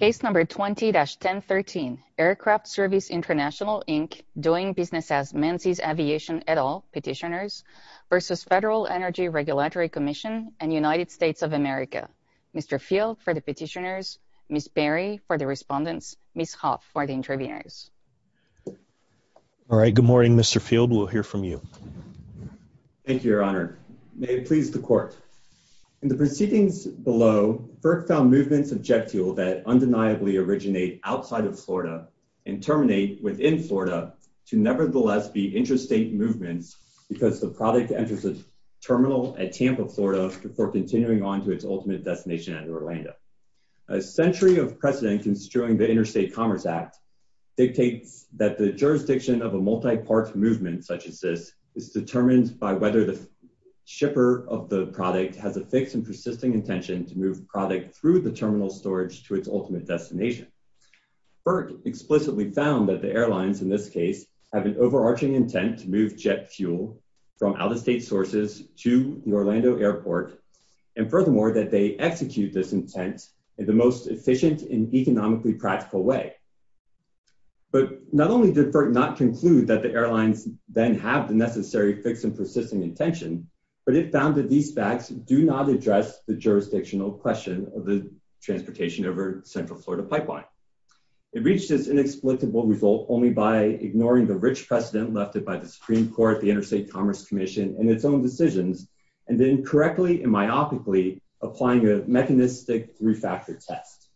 Case number 20-1013. Aircraft Service International, Inc. doing business as Menzies Aviation et al. Petitioners v. Federal Energy Regulatory Commission and United States of America. Mr. Field for the petitioners, Ms. Berry for the respondents, Ms. Hoff for the interviewers. All right, good morning, Mr. Field. We'll hear from you. Thank you, Your Honor. May please the Court. In the proceedings below, FERC found movements of jet fuel that undeniably originate outside of Florida and terminate within Florida to nevertheless be interstate movements because the product enters a terminal at Tampa, Florida before continuing on to its ultimate destination at Orlando. A century of precedent construing the Interstate Commerce Act dictates that the jurisdiction of a multi-part movement such as this is determined by whether the shipper of the product has a fixed and persisting intention to move product through the terminal storage to its ultimate destination. FERC explicitly found that the airlines in this case have an overarching intent to move jet fuel from out-of-state sources to the Orlando airport and furthermore that they execute this intent in the most efficient and economically practical way. But not only did FERC not conclude that the airlines then have the necessary fixed and persisting intention, but it found that these facts do not address the jurisdictional question of the transportation over Central Florida pipeline. It reached this inexplicable result only by ignoring the rich precedent left by the Supreme Court, the Interstate Commerce Commission, and its own decisions and then correctly and myopically applying a mechanistic three-factor test.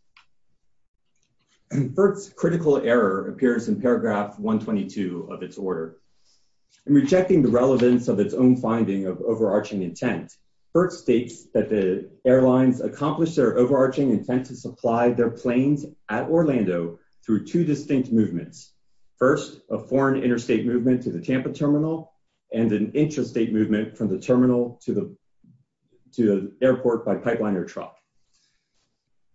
FERC's critical error appears in paragraph 122 of its order. In rejecting the relevance of its own finding of overarching intent, FERC states that the airlines accomplish their overarching intent to supply their planes at Orlando through two distinct movements. First, a foreign interstate movement to the Tampa terminal and an intrastate movement from the terminal to the to the airport by pipeline or truck.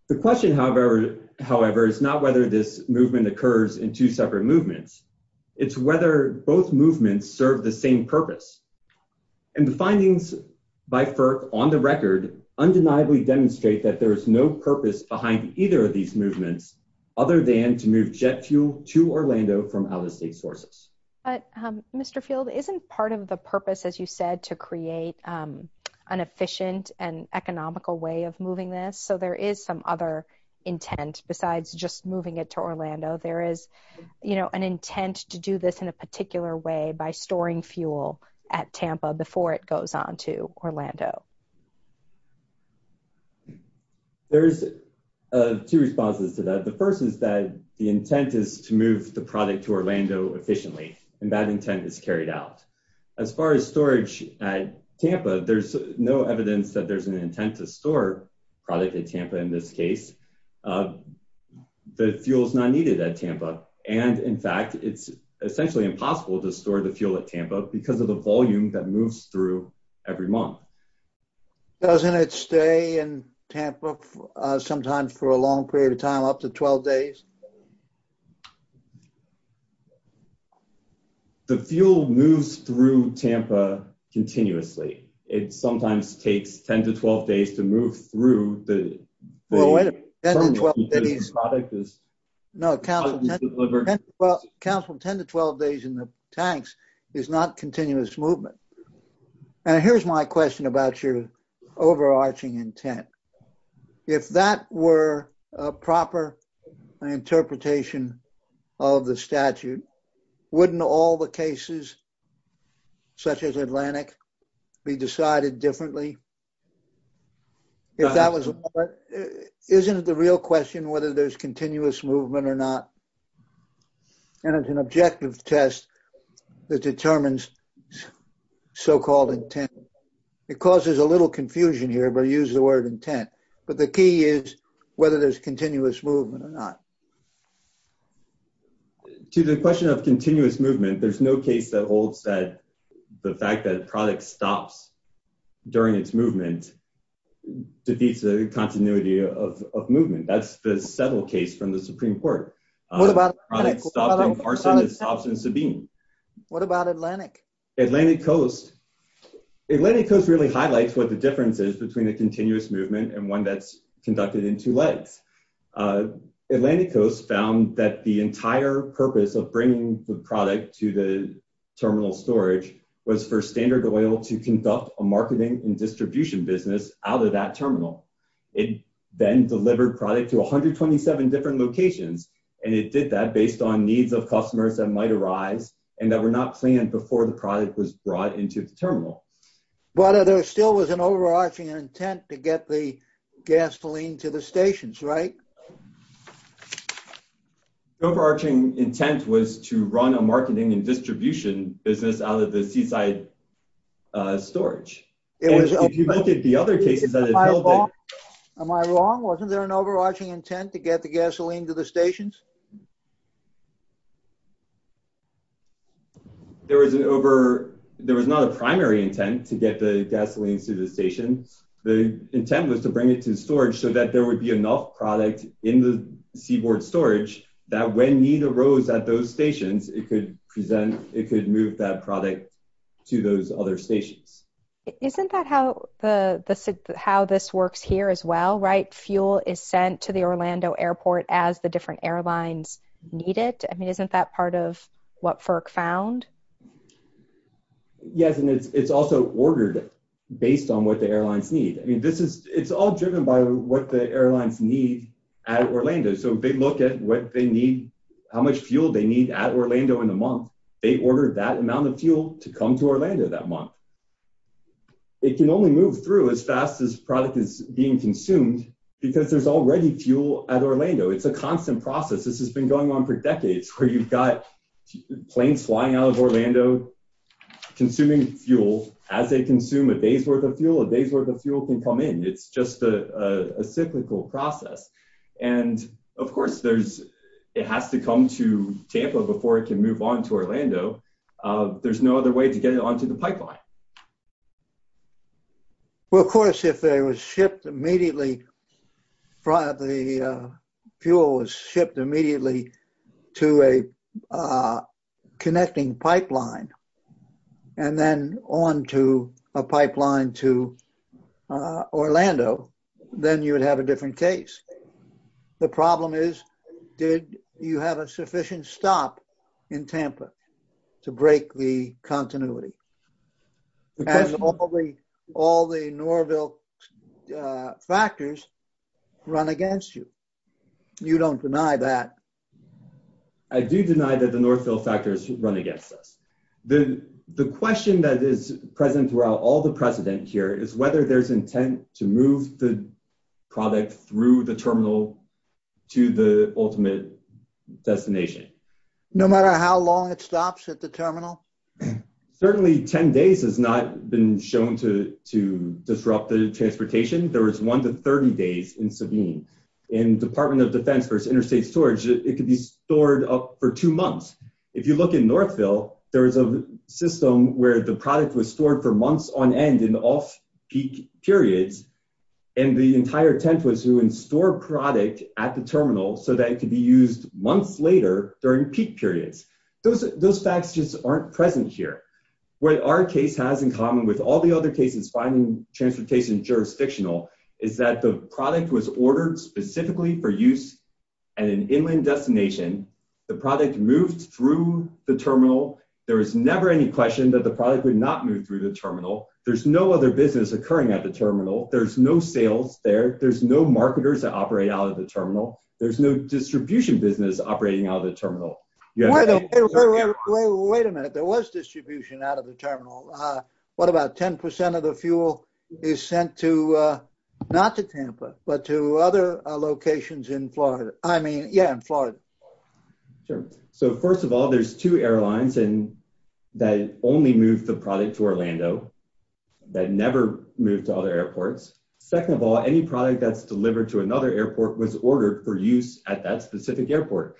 The question however is not whether this movement occurs in two purposes. And the findings by FERC on the record undeniably demonstrate that there is no purpose behind either of these movements other than to move jet fuel to Orlando from out-of-state sources. But Mr. Field, isn't part of the purpose as you said to create an efficient and economical way of moving this? So there is some other intent besides just moving it to Orlando. There is you know an intent to do this in a particular way by storing fuel at Tampa before it goes on to Orlando. There's two responses to that. The first is that the intent is to move the product to Orlando efficiently and that intent is carried out. As far as storage at Tampa, there's no evidence that there's an intent to store product at Tampa in this case. The fuel is not needed at Tampa and in fact it's essentially impossible to store the fuel at Tampa because of the volume that moves through every month. Doesn't it stay in Tampa sometimes for a long period of time up to 12 days? The fuel moves through Tampa continuously. It sometimes takes 10 to 12 days to move through the product. No council 10 to 12 days in the tanks is not continuous movement and here's my question about your overarching intent. If that were a proper interpretation of the statute, wouldn't all the cases such as Atlantic be decided differently? If that was, isn't it the real question whether there's continuous movement or not? And it's an objective test that determines so-called intent. It causes a little confusion here but use the word intent. But the key is whether there's continuous movement or not. To the question of continuous movement, there's no case that holds that the fact that product stops during its movement defeats the continuity of movement. That's the case from the Supreme Court. What about Atlantic? Atlantic Coast really highlights what the difference is between a continuous movement and one that's conducted in two legs. Atlantic Coast found that the entire purpose of bringing the product to the terminal storage was for Standard Oil to conduct a marketing and distribution business out of that terminal. It then delivered product to 127 different locations and it did that based on needs of customers that might arise and that were not planned before the product was brought into the terminal. But there still was an overarching intent to get the gasoline to the stations, right? Overarching intent was to run a marketing and distribution business out of the seaside storage. Am I wrong? Wasn't there an overarching intent to get the gasoline to the stations? There was not a primary intent to get the gasoline to the station. The intent was to bring it to storage so that there would be enough product in the seaboard storage that when need product to those other stations. Isn't that how this works here as well? Fuel is sent to the Orlando airport as the different airlines need it. Isn't that part of what FERC found? Yes, and it's also ordered based on what the airlines need. It's all driven by what the airlines need at Orlando. If they look at how much fuel they need at Orlando in a month, they order that amount of fuel to come to Orlando that month. It can only move through as fast as product is being consumed because there's already fuel at Orlando. It's a constant process. This has been going on for decades where you've got planes flying out of Orlando consuming fuel. As they consume a day's worth of fuel, a day's worth of fuel can come in. It's just a cyclical process. And of course, it has to come to Orlando. There's no other way to get it onto the pipeline. Well, of course, if the fuel was shipped immediately to a connecting pipeline and then onto a pipeline to Orlando, then you would have a different case. The problem is, did you have a sufficient stop in Tampa to break the continuity? All the Norville factors run against you. You don't deny that. I do deny that the Norville factors run against us. The question that is present throughout all precedent here is whether there's intent to move the product through the terminal to the ultimate destination. No matter how long it stops at the terminal? Certainly, 10 days has not been shown to disrupt the transportation. There was one to 30 days in Sabine. In Department of Defense versus Interstate Storage, it could be stored up for two months. If you look in Northville, there is a system where the product was stored for months on end in off-peak periods. And the entire intent was to store product at the terminal so that it could be used months later during peak periods. Those factors just aren't present here. What our case has in common with all the other cases finding transportation jurisdictional is that the product was ordered specifically for use at an inland destination. The product moved through the terminal. There was never any question that the product would not move through the terminal. There's no other business occurring at the terminal. There's no sales there. There's no marketers that operate out of the terminal. There's no distribution business operating out of the terminal. Wait a minute. There was distribution out of the terminal. What about 10% of the fuel is sent not to Tampa, but to other locations in Florida? First of all, there's two airlines that only moved the product to Orlando that never moved to other airports. Second of all, any product that's delivered to another airport was ordered for use at that specific airport.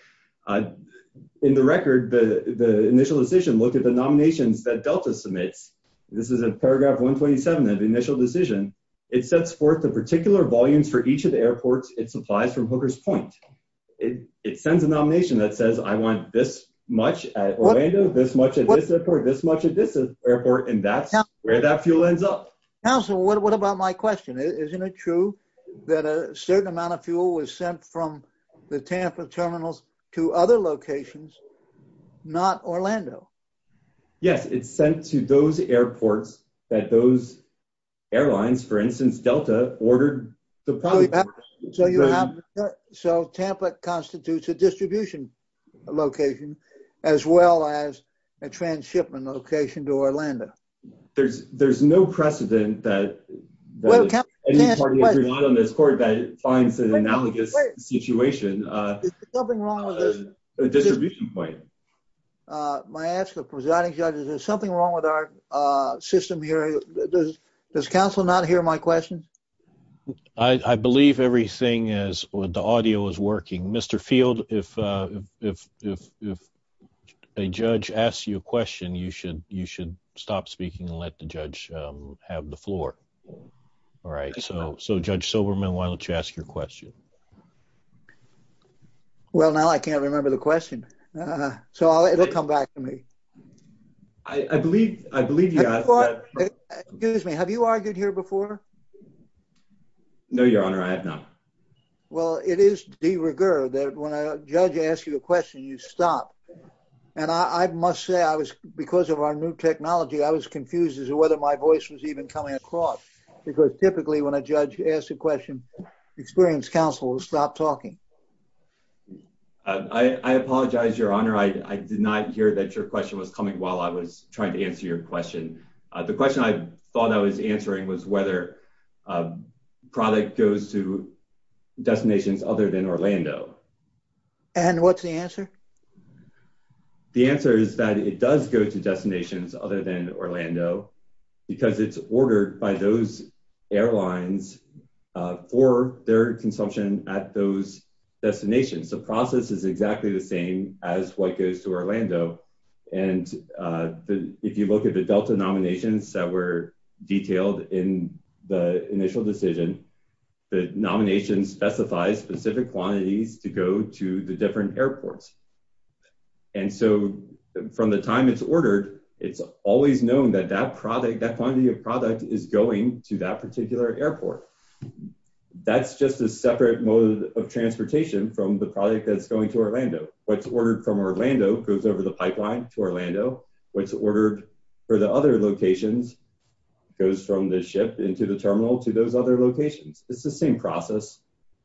In the record, the initial decision looked at the nominations that Delta submits. This is in paragraph 127 of the initial decision. It sets forth the particular volumes for each of the airports it supplies from Hooker's Point. It sends a nomination that says, I want this much at Orlando, this much at this airport, this much at this airport. That's where that fuel ends up. Counselor, what about my question? Isn't it true that a certain amount of fuel was sent from the Tampa terminals to other locations, not Orlando? Yes. It's sent to those airports that those airlines, for instance, Delta ordered the product. So Tampa constitutes a distribution location as well as a transshipment location to Orlando. There's no precedent that any party in this court that finds an analogous situation a distribution point. My ask of the presiding judge, is there something wrong with our system here? Does counsel not hear my question? I believe everything is, the audio is working. Mr. Field, if a judge asks you a question, you should stop speaking and let the judge have the floor. All right. So Judge Silberman, why don't you ask your question? Well, now I can't remember the question. So it'll come back to me. I believe, I believe you guys. Excuse me, have you argued here before? No, your honor, I have not. Well, it is de rigueur that when a judge asks you a question, you stop. And I must say I was, because of our new technology, I was confused as to whether my voice was even coming across because typically when a judge asks a question, experienced counsel will stop talking. I apologize, your honor. I did not hear that your question was coming while I was trying to answer your question. The question I thought I was answering was whether a product goes to destinations other than Orlando. And what's the answer? The answer is that it does go to destinations other than Orlando because it's ordered by those airlines for their consumption at those destinations. The process is exactly the same. And if you look at the Delta nominations that were detailed in the initial decision, the nomination specifies specific quantities to go to the different airports. And so from the time it's ordered, it's always known that that product, that quantity of product is going to that particular airport. That's just a separate mode of transportation from the product that's going to Orlando. What's ordered from Orlando goes over the pipeline to Orlando. What's ordered for the other locations goes from the ship into the terminal to those other locations. It's the same process.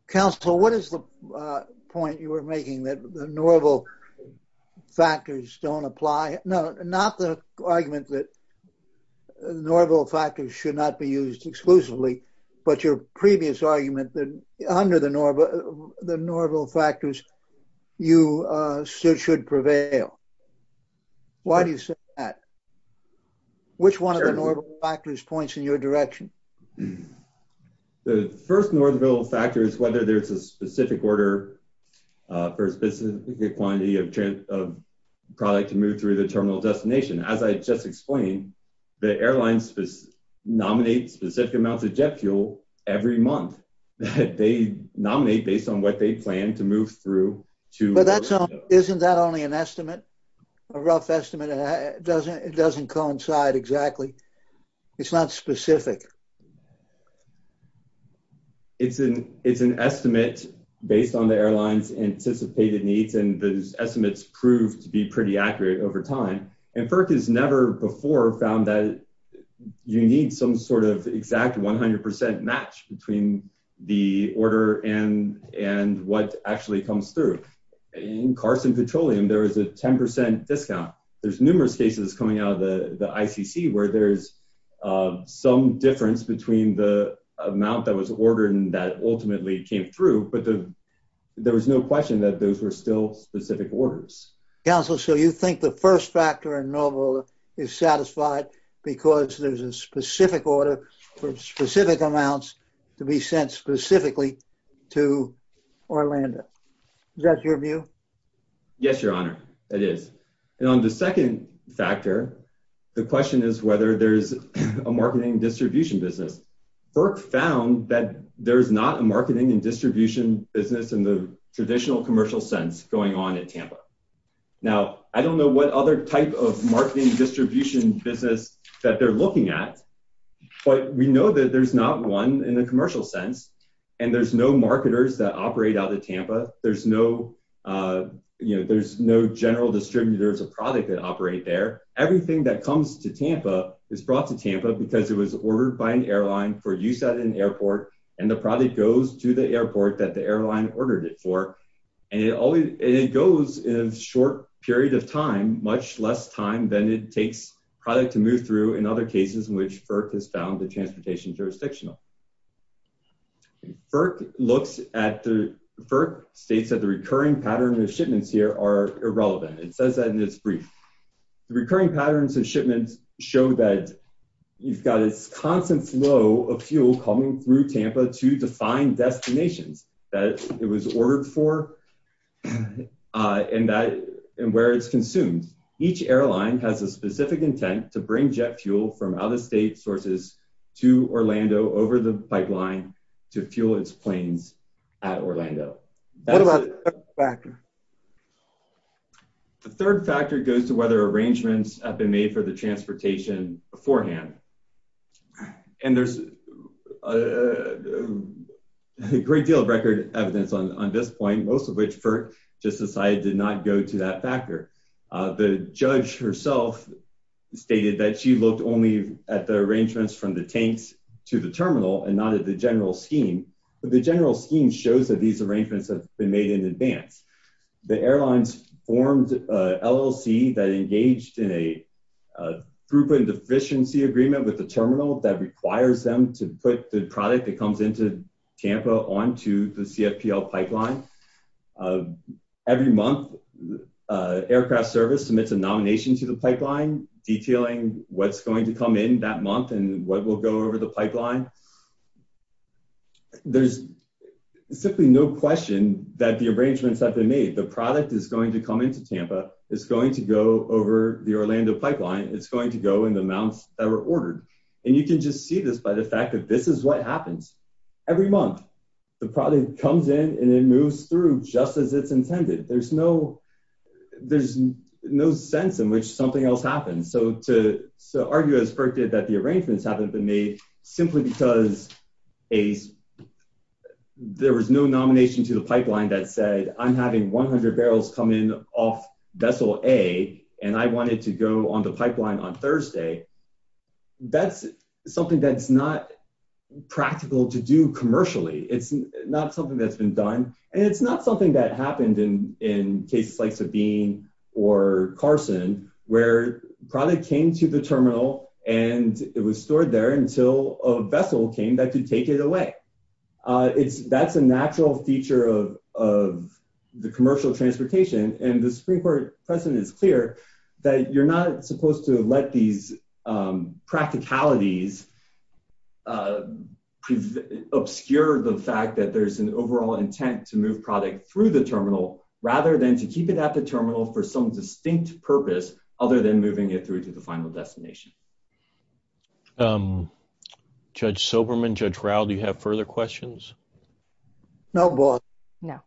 Counsel, what is the point you were making that the normal factors don't apply? No, not the argument that normal factors should not be used exclusively, but your previous argument that under the normal factors you should prevail. Why do you say that? Which one of the normal factors points in your direction? The first normal factor is whether there's a specific order for a specific quantity of product to move through the terminal destination. As I just explained, the airlines nominate specific amounts of jet fuel every month. They nominate based on what they plan to move through. Isn't that only an estimate, a rough estimate? It doesn't coincide exactly. It's not specific. It's an estimate based on the airline's anticipated needs, and those estimates prove to be pretty accurate over time. FERC has never before found that you need some sort of exact 100% match between the order and what actually comes through. In Carson Petroleum, there was a 10% discount. There's numerous cases coming out of the ICC where there's some difference between the amount that was ordered and that ultimately came through, but there was no question that those were still specific orders. You think the first factor in normal is satisfied because there's a specific order for specific amounts to be sent specifically to Orlando? Is that your view? Yes, Your Honor, it is. On the second factor, the question is whether there's a marketing and distribution business in the traditional commercial sense going on at Tampa. Now, I don't know what other type of marketing distribution business that they're looking at, but we know that there's not one in the commercial sense, and there's no marketers that operate out of Tampa. There's no general distributors of product that operate there. Everything that comes to Tampa is brought to Tampa because it was ordered by an airline for use at an airport, and the product goes to the airport that the airline ordered it for, and it goes in a short period of time, much less time than it takes product to move through in other cases in which FERC has found the transportation jurisdictional. FERC states that the recurring pattern of shipments here are irrelevant. It says that in its brief. The recurring patterns of shipments show that you've got this constant flow of fuel coming through Tampa to define destinations that it was ordered for and where it's consumed. Each airline has a specific intent to bring jet fuel from out-of-state sources to Orlando over the pipeline to fuel its planes at Orlando. What about the third factor? The third factor goes to whether arrangements have been made for the transportation beforehand, and there's a great deal of record evidence on this point, most of which FERC just decided to not go to that factor. The judge herself stated that she looked only at the arrangements from the tanks to the terminal and not at the general scheme, but the general scheme shows that these arrangements have been made in advance. The airlines formed a LLC that engaged in a group and deficiency agreement with the terminal that requires them to put the product that comes into Tampa onto the CFPL pipeline. Every month, aircraft service submits a nomination to the pipeline detailing what's going to come in that month and what will go over the pipeline. There's simply no question that the arrangements have been made. The product is going to come into the amounts that were ordered. You can just see this by the fact that this is what happens. Every month, the product comes in and it moves through just as it's intended. There's no sense in which something else happens. To argue, as FERC did, that the arrangements haven't been made simply because there was no nomination to the pipeline that said, I'm having 100 barrels come off vessel A and I want it to go on the pipeline on Thursday. That's something that's not practical to do commercially. It's not something that's been done and it's not something that happened in cases like Sabine or Carson where product came to the terminal and it was stored there until a vessel came that could take it away. That's a natural feature of the commercial transportation and the Supreme Court precedent is clear that you're not supposed to let these practicalities obscure the fact that there's an overall intent to move product through the terminal rather than to keep it at the terminal for some distinct purpose other than moving it through to the final destination. Judge Soberman, Judge Raul, do you have further questions? No, boss. No.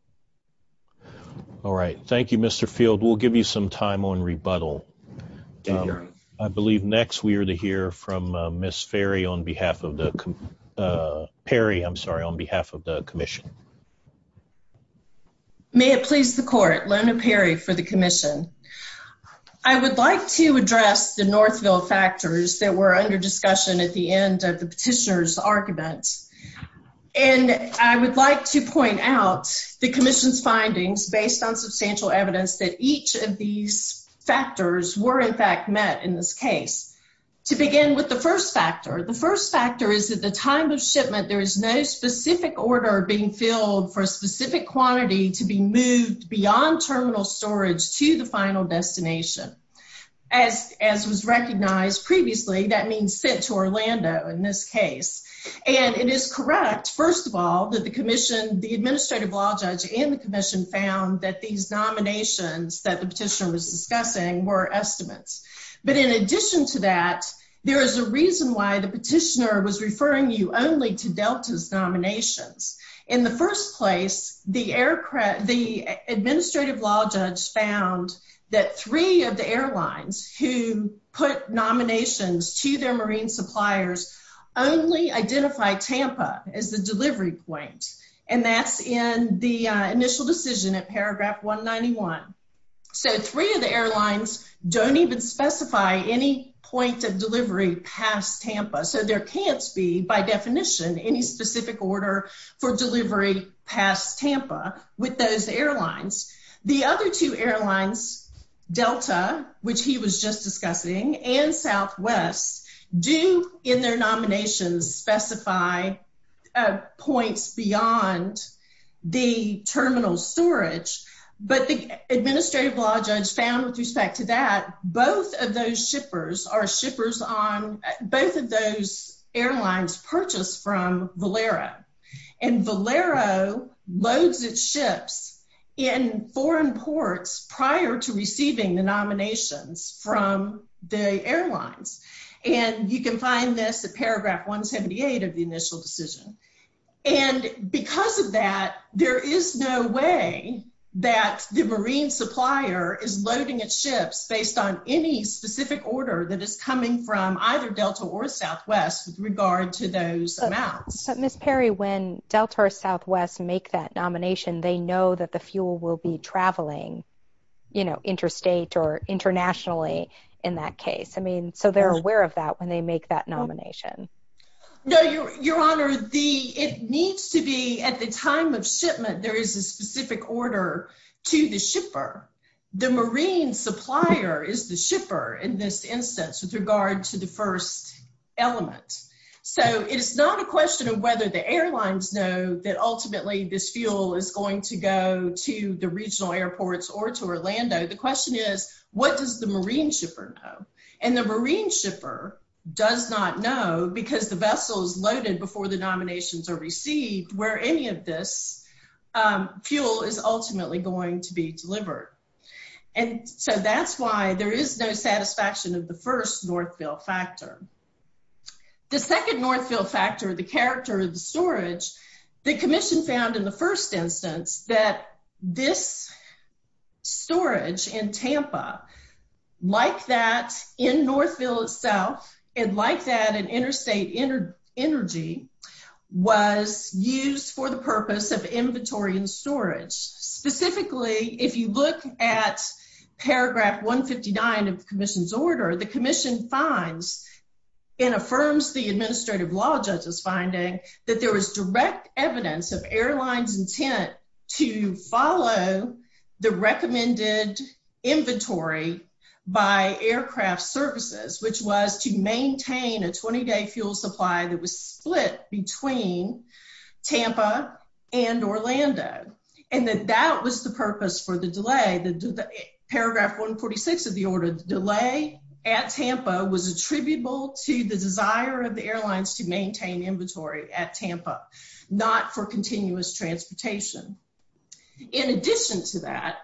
All right. Thank you, Mr. Field. We'll give you some time on rebuttal. I believe next we are to hear from Ms. Perry on behalf of the commission. May it please the court, Lona Perry for the commission. I would like to address the Northville factors that were under discussion at the end of the petitioner's argument. And I would like to point out the commission's findings based on substantial evidence that each of these factors were in fact met in this case. To begin with the first factor, the first factor is that at the time of shipment there is no specific order being filled for a specific quantity to be moved beyond terminal storage to the final destination. As was recognized previously, that means sent to Orlando in this case. And it is correct, first of all, that the commission, the administrative law judge and the commission found that these nominations that the petitioner was discussing were estimates. But in addition to that, there is a reason why the petitioner was referring you only to Delta's nominations. In the first place, the administrative law judge found that three of the airlines who put nominations to their marine suppliers only identify Tampa as the delivery point. And that's in the initial decision at paragraph 191. So three of the airlines don't even specify any point of delivery past Tampa. So there can't be, by definition, any specific order for delivery past Tampa with those airlines. The other two airlines, Delta, which he was just discussing, and Southwest, do in their nominations specify points beyond the terminal storage. But the administrative law judge found with respect to that, both of those shippers are shippers on both of those airlines purchased from Valero. And Valero loads its ships in foreign ports prior to receiving the nominations from the airlines. And you can find this at paragraph 178 of the initial decision. And because of that, there is no way that the marine supplier is loading its ships based on any specific order that is coming from either Delta or Southwest with regard to those amounts. But Ms. Perry, when Delta or Southwest make that nomination, they know that the fuel will be traveling, you know, interstate or internationally in that case. I mean, so they're aware of that when they make that nomination. No, Your Honor, it needs to be at the time of shipment, there is a specific order to the shipper. The marine supplier is the shipper in this instance with regard to the first element. So it is not a question of whether the airlines know that ultimately this fuel is going to go to the regional airports or to Orlando. The question is, what does the marine shipper know? And the marine shipper does not know because the vessel is loaded before the nominations are received where any of this fuel is ultimately going to be delivered. And so that's why there is no satisfaction of the first Northville factor. The second Northville factor, the character of the storage, the commission found in the first Northville itself, and like that, an interstate energy was used for the purpose of inventory and storage. Specifically, if you look at paragraph 159 of the commission's order, the commission finds and affirms the administrative law judge's finding that there was direct evidence of airlines intent to follow the recommended inventory by aircraft services, which was to maintain a 20-day fuel supply that was split between Tampa and Orlando. And that that was the purpose for the delay, paragraph 146 of the order, delay at Tampa was attributable to the desire of the airlines to maintain a 20-day fuel supply for transportation. In addition to that,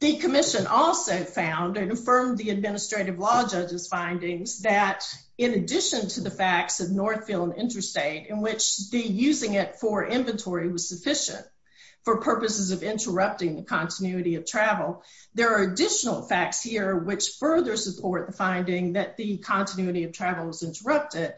the commission also found and affirmed the administrative law judge's findings that in addition to the facts of Northville and interstate in which the using it for inventory was sufficient for purposes of interrupting the continuity of travel, there are additional facts here which further support the finding that the continuity of travel was interrupted.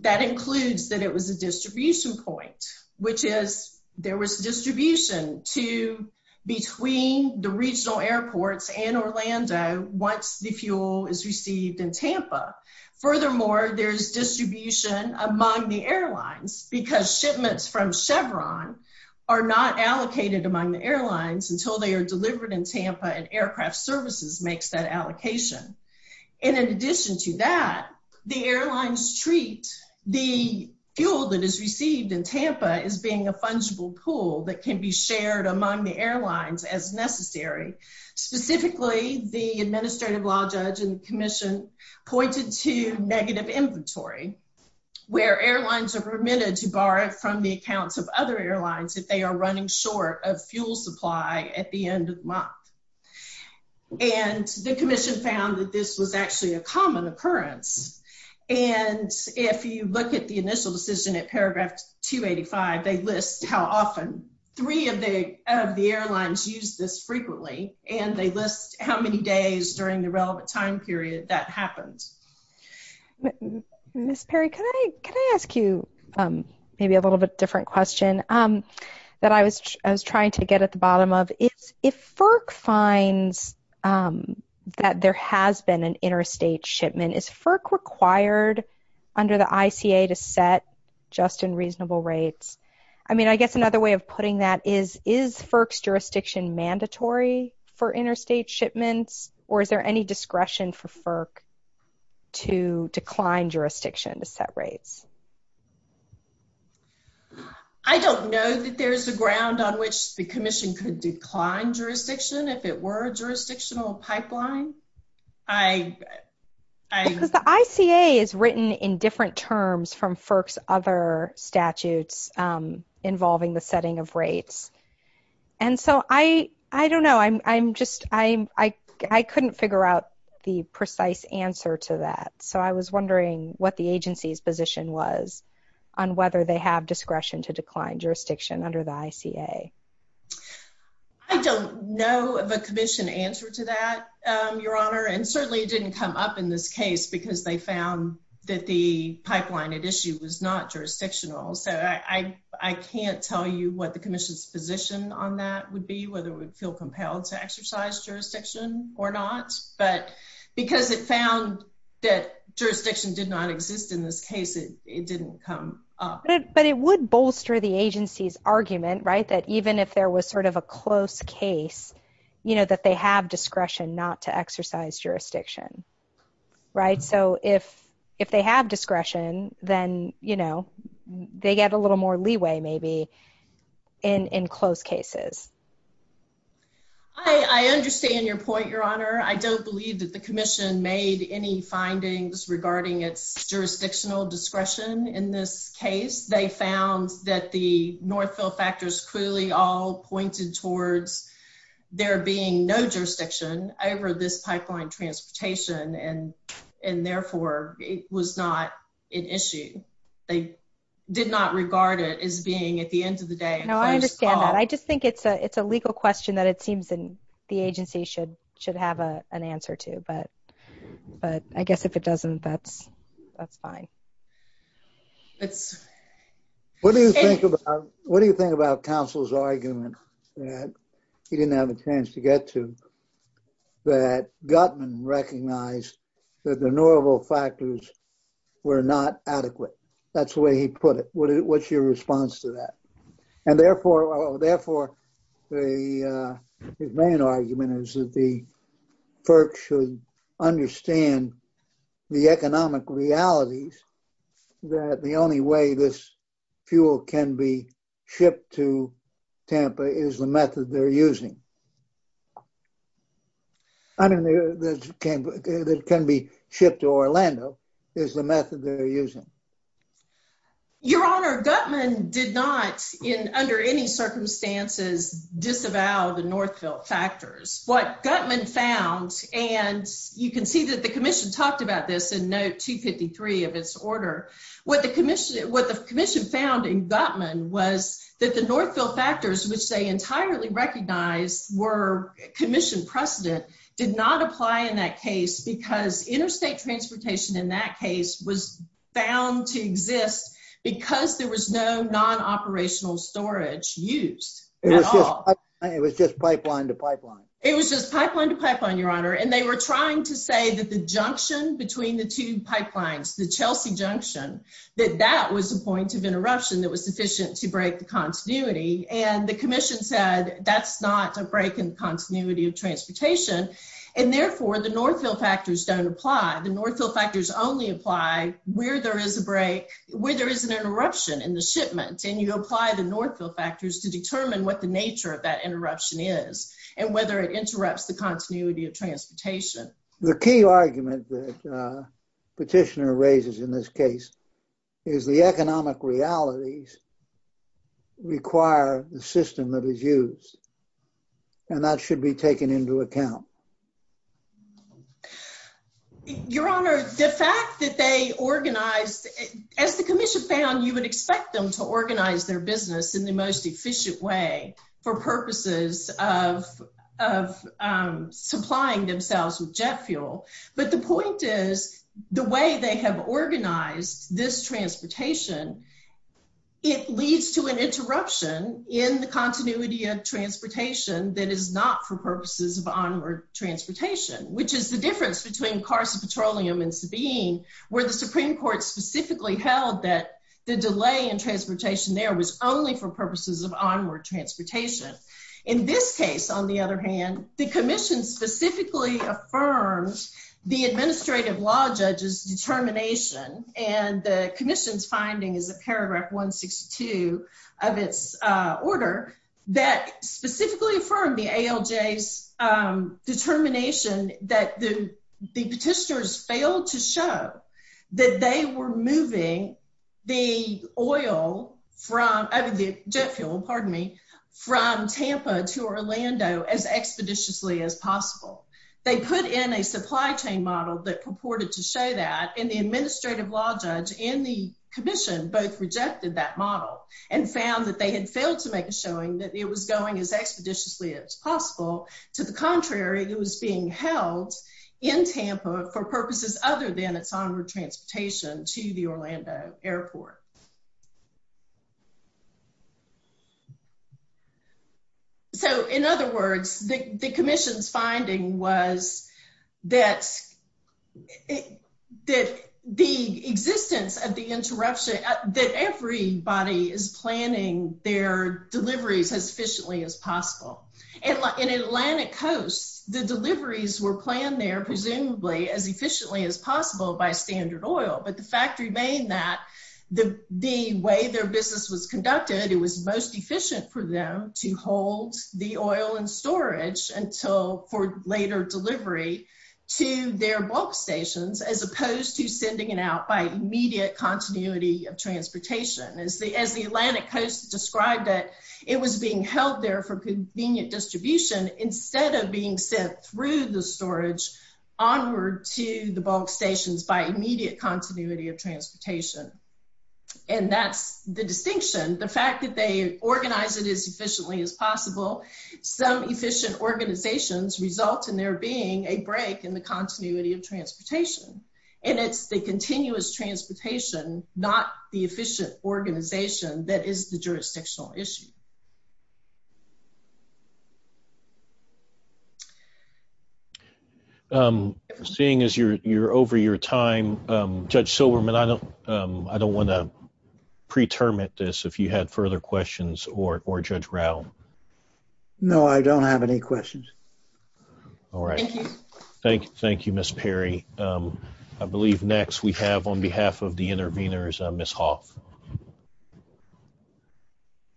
That includes that it was a distribution point, which is there was distribution to between the regional airports and Orlando once the fuel is received in Tampa. Furthermore, there's distribution among the airlines because shipments from Chevron are not allocated among the airlines until they are delivered in Tampa and aircraft services makes that allocation. And in addition to that, the airlines treat the fuel that is received in Tampa as being a fungible pool that can be shared among the airlines as necessary. Specifically, the administrative law judge and commission pointed to negative inventory where airlines are permitted to borrow from the accounts of other airlines if they are running short of fuel supply at the end of month. And the commission found that this was actually a common occurrence. And if you look at the initial decision at paragraph 285, they list how often three of the of the airlines use this frequently, and they list how many days during the relevant time period that happens. Miss Perry, can I ask you maybe a little bit different question that I was trying to get at if FERC finds that there has been an interstate shipment, is FERC required under the ICA to set just in reasonable rates? I mean, I guess another way of putting that is, is FERC's jurisdiction mandatory for interstate shipments? Or is there any discretion for FERC to decline jurisdiction to set rates? I don't know that there's a ground on which the commission could decline jurisdiction, if it were a jurisdictional pipeline. I, I... Because the ICA is written in different terms from FERC's other statutes involving the setting of rates. And so I, I don't know, I'm, I'm just, I'm, I, I couldn't figure out the precise answer to that. So I was wondering what the agency's position was on whether they have discretion to decline jurisdiction under the ICA. I don't know of a commission answer to that, Your Honor. And certainly it didn't come up in this case because they found that the pipeline at issue was not jurisdictional. So I, I, I can't tell you what the commission's position on that would be, whether it would feel compelled to that jurisdiction did not exist in this case. It, it didn't come up. But it would bolster the agency's argument, right? That even if there was sort of a close case, you know, that they have discretion not to exercise jurisdiction, right? So if, if they have discretion, then, you know, they get a little more leeway maybe in, in close cases. I, I understand your point, Your Honor. I don't believe that the commission made any findings regarding its jurisdictional discretion in this case. They found that the Northville factors clearly all pointed towards there being no jurisdiction over this pipeline transportation and, and therefore it was not an issue. They did not regard it as being at the end of the day. No, I understand that. I just think it's a, it's a legal question that it seems in the agency should, should have a, an answer to, but, but I guess if it doesn't, that's, that's fine. What do you think about, what do you think about counsel's argument that he didn't have a chance to get to that Gutman recognized that the Norville factors were not adequate? That's he put it. What's your response to that? And therefore, therefore the main argument is that the FERC should understand the economic realities that the only way this fuel can be shipped to Tampa is the method they're using. I mean, that can be shipped to Orlando is the method they're using. Your Honor, Gutman did not in under any circumstances disavow the Northville factors. What Gutman found, and you can see that the commission talked about this in note 253 of its order. What the commission, what the commission found in Gutman was that the Northville factors, which they entirely recognized were commissioned precedent did not apply in that case was found to exist because there was no non-operational storage used. It was just pipeline to pipeline. It was just pipeline to pipeline, Your Honor. And they were trying to say that the junction between the two pipelines, the Chelsea junction, that that was a point of interruption that was sufficient to break the continuity. And the commission said that's not a break in continuity of transportation. And therefore the Northville factors don't apply. The Northville factors only apply where there is a break, where there is an interruption in the shipment and you apply the Northville factors to determine what the nature of that interruption is and whether it interrupts the continuity of transportation. The key argument that Petitioner raises in this case is the economic realities require the system that is used and that should be taken into account. Your Honor, the fact that they organized, as the commission found, you would expect them to organize their business in the most efficient way for purposes of, of supplying themselves with jet fuel. But the point is the way they have organized this transportation, it leads to an interruption in the continuity of transportation that is not for purposes of onward transportation, which is the difference between Carson Petroleum and Sabine, where the Supreme Court specifically held that the delay in transportation there was only for purposes of onward transportation. In this case, on the other hand, the commission specifically affirms the administrative law determination and the commission's finding is a paragraph 162 of its order that specifically affirmed the ALJ's determination that the Petitioners failed to show that they were moving the oil from, I mean the jet fuel, pardon me, from Tampa to Orlando as expeditiously as possible. They put in a supply chain model that purported to show that and the administrative law judge and the commission both rejected that model and found that they had failed to make a showing that it was going as expeditiously as possible. To the contrary, it was being held in Tampa for purposes other than its onward transportation to the Orlando airport. So, in other words, the commission's finding was that the existence of the interruption, that everybody is planning their deliveries as efficiently as possible. In Atlantic Coast, the deliveries were planned there presumably as efficiently as possible by Standard Oil, but the fact remained that the way their business was conducted, it was most efficient for them to hold the oil in storage until for later delivery to their bulk stations as opposed to sending it out by immediate continuity of transportation. As the Atlantic Coast described it, it was being held there for convenient distribution instead of being sent through the of transportation. And that's the distinction. The fact that they organize it as efficiently as possible, some efficient organizations result in there being a break in the continuity of transportation. And it's the continuous transportation, not the efficient organization, that is the jurisdictional issue. Seeing as you're over your time, Judge Silberman, I don't want to pre-terminate this if you had further questions or Judge Rowe. No, I don't have any questions. All right. Thank you, Ms. Perry. I believe next we have, on behalf of the intervenors, Ms. Hoff.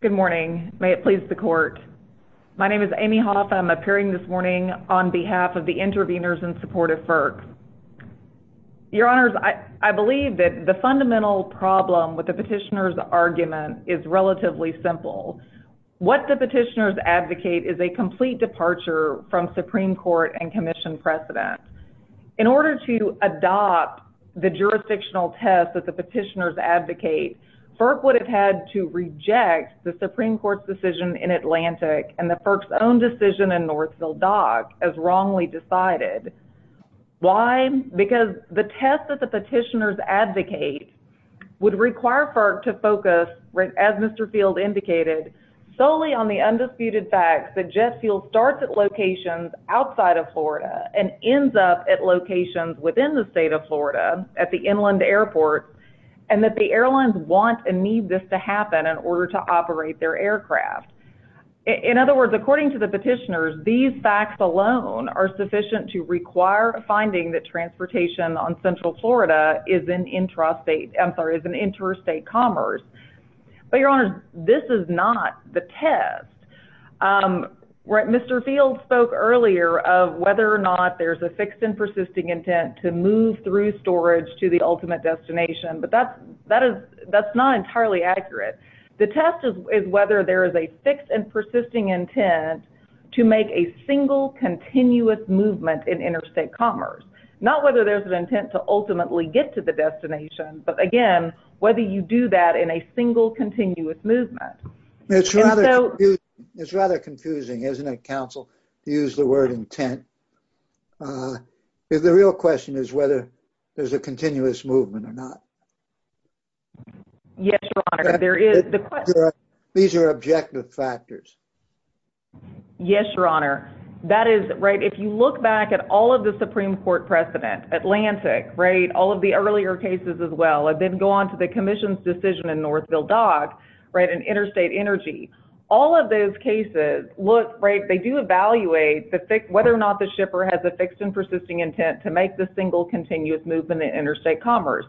Good morning. May it please the court. My name is Amy Hoff. I'm appearing this morning on behalf of the intervenors in support of FERC. Your Honors, I believe that the fundamental problem with the petitioner's argument is relatively simple. What the petitioners advocate is a complete departure from Supreme Court and Commission precedent. In order to adopt the jurisdictional test that the petitioners advocate, FERC would have had to reject the Supreme Court's decision in Atlantic and the FERC's own decision in Northfield Dock as wrongly decided. Why? Because the test that the petitioners advocate would require FERC to focus, as Mr. Field indicated, solely on the undisputed facts that locations within the state of Florida at the inland airport and that the airlines want and need this to happen in order to operate their aircraft. In other words, according to the petitioners, these facts alone are sufficient to require a finding that transportation on central Florida is an interstate commerce. But, Your Honors, this is not the test. Mr. Field spoke earlier of whether or not there's a fixed and persisting intent to move through storage to the ultimate destination, but that's not entirely accurate. The test is whether there is a fixed and persisting intent to make a single continuous movement in interstate commerce. Not whether there's an intent to ultimately get to the destination, but again, whether you do that in a single continuous movement. It's rather confusing, isn't it, counsel, to use the word intent? The real question is whether there's a continuous movement or not. Yes, Your Honor. These are objective factors. Yes, Your Honor. If you look back at all of the Supreme Court precedent, Atlantic, all of the earlier cases as well, and then go on to the commission's decision in Northfield Dock, an interstate energy, all of those cases, they do evaluate whether or not the shipper has a fixed and persisting intent to make the single continuous movement in interstate commerce.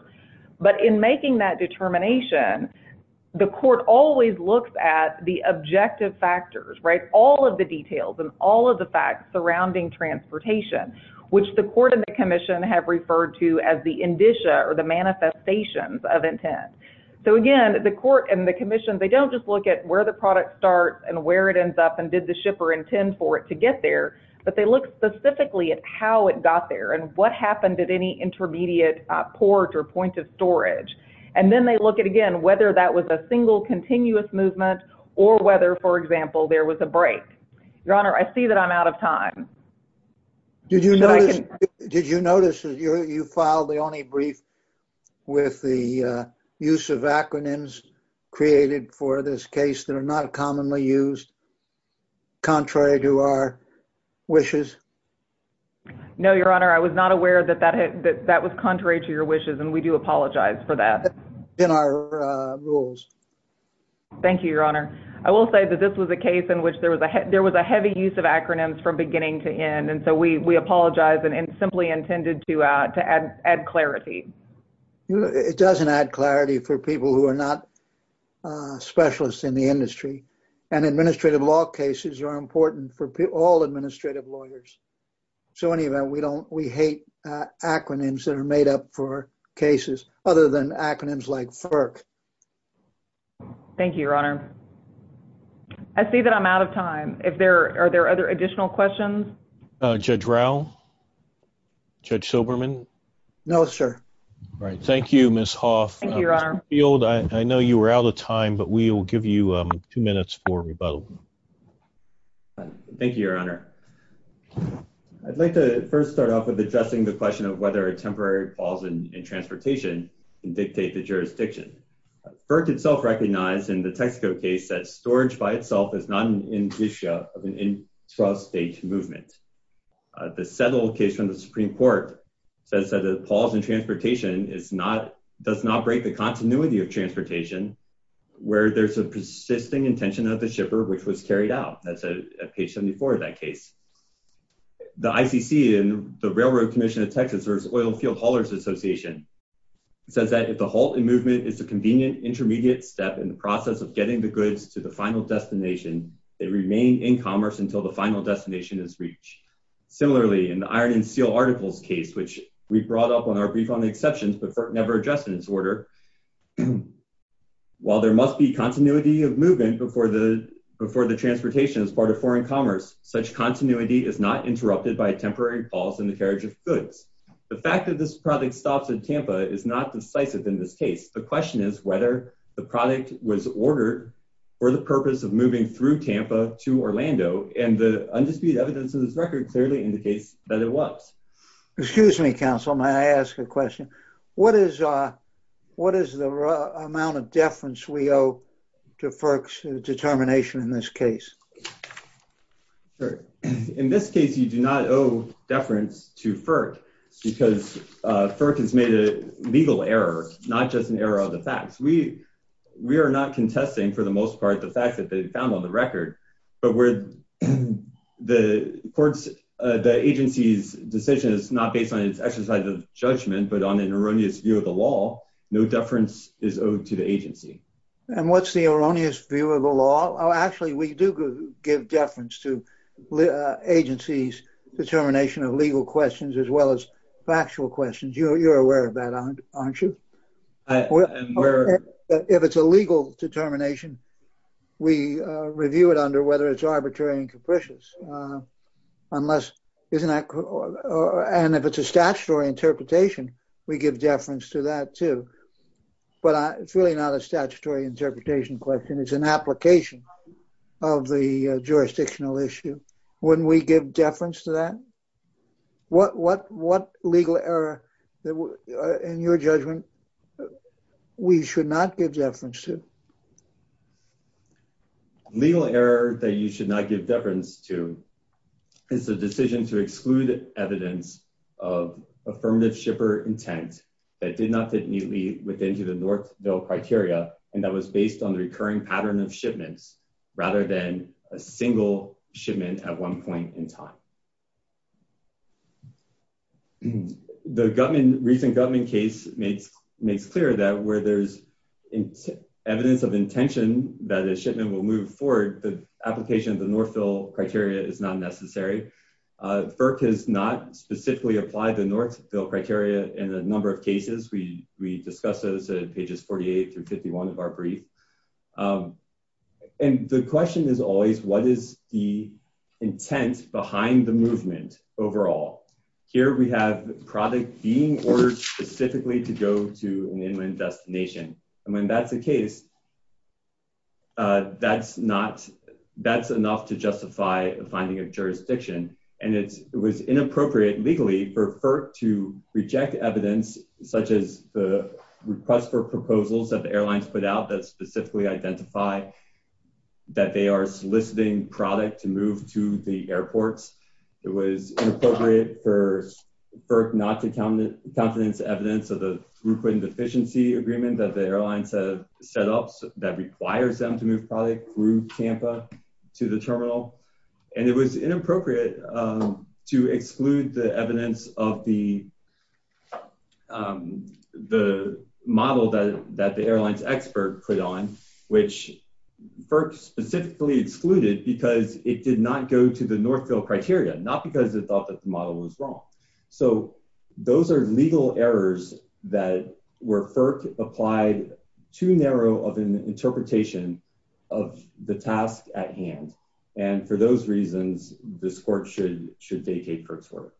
But in making that determination, the court always looks at the objective factors, all of the details and all of the facts surrounding transportation, which the court and the commission have referred to as the indicia or the manifestations of intent. So again, the court and the commission, they don't just look at where the product starts and where it ends up and did the shipper intend for it to get there, but they look specifically at how it got there and what happened at any intermediate port or point of storage. And then they look at, again, whether that was a single continuous movement or whether, for example, there was a break. Your Honor, I see that I'm out of time. Did you notice that you filed the only brief with the use of acronyms created for this case that are not commonly used contrary to our wishes? No, Your Honor, I was not aware that that was contrary to your wishes, and we do apologize for that. In our rules. Thank you, Your Honor. I will say that this was a case in which there was a heavy use of acronyms from beginning to end, and so we apologize and simply intended to add clarity. It doesn't add clarity for people who are not specialists in the industry, and administrative law cases are important for all administrative lawyers. So anyway, we hate acronyms that are made up for cases other than acronyms like FERC. Thank you, Your Honor. I see that I'm out of time. If there are there other additional questions? Judge Rao? Judge Silberman? No, sir. Thank you, Ms. Hoff. Thank you, Your Honor. Mr. Field, I know you were out of time, but we will give you two minutes for rebuttal. Thank you, Your Honor. I'd like to first start off with addressing the question of whether a temporary pause in transportation can dictate the jurisdiction. FERC itself recognized in the Texaco case that storage by itself is not an issue of an intrastate movement. The Settle case from the Supreme Court says that a pause in transportation does not break the continuity of transportation where there's a persisting intention of the shipper which was carried out. That's at page 74 of that case. The ICC and the Railroad Commission of Texas, or its Oil Field Haulers Association, says that if the halt in movement is a convenient intermediate step in the process of getting the goods to the final destination, they remain in commerce until the final destination is reached. Similarly, in the Iron and Steel Articles case, which we brought up on our brief on the exceptions but never addressed in this order, while there must be continuity of movement before the transportation is part of foreign commerce, such continuity is not interrupted by a temporary pause in the carriage of goods. The fact that this product stops in Tampa is not decisive in this case. The question is whether the product was ordered for the purpose of moving through Tampa to Orlando, and the undisputed evidence of this record clearly indicates that it was. Excuse me, counsel. May I ask a question? What is the amount of deference we owe to FERC's determination in this case? In this case, you do not owe deference to FERC because FERC has made a legal error, not just an error of the facts. We are not contesting, for the most part, the fact that they found on the record, but the agency's decision is not based on its exercise of judgment but on an erroneous view of the law. No deference is owed to the agency. And what's the erroneous view of the law? Actually, we do give deference to agency's determination of legal questions as well as factual questions. You're aware of that, aren't you? If it's a legal determination, we review it under whether it's arbitrary and capricious. If it's a statutory interpretation, we give deference to that too, but it's really not a statutory interpretation question. It's an application of the jurisdictional issue. Wouldn't we give deference to that? What legal error, in your judgment, we should not give deference to? Legal error that you should not give deference to is the decision to exclude evidence of Northville Criteria and that was based on the recurring pattern of shipments rather than a single shipment at one point in time. The recent Gutman case makes clear that where there's evidence of intention that a shipment will move forward, the application of the Northville Criteria is not necessary. FERC has specifically applied the Northville Criteria in a number of cases. We discussed those at pages 48 through 51 of our brief. The question is always, what is the intent behind the movement overall? Here, we have product being ordered specifically to go to an inland destination. When that's the legally for FERC to reject evidence such as the request for proposals that the airlines put out that specifically identify that they are soliciting product to move to the airports. It was inappropriate for FERC not to countenance evidence of the throughput and efficiency agreement that the airlines have set up that requires them to move product through Tampa to the terminal. It was inappropriate to exclude the evidence of the model that the airlines expert put on which FERC specifically excluded because it did not go to the Northville Criteria. Not because it thought that the model was wrong. Those are legal errors that were FERC applied too narrow of an interpretation of the task at hand. For those reasons, this court should vacate FERC's work.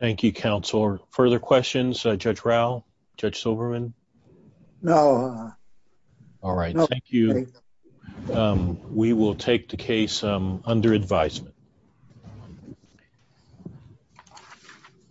Thank you, Counselor. Further questions? Judge Raul? Judge Silverman? No. All right. Thank you. We will take the case under advisement.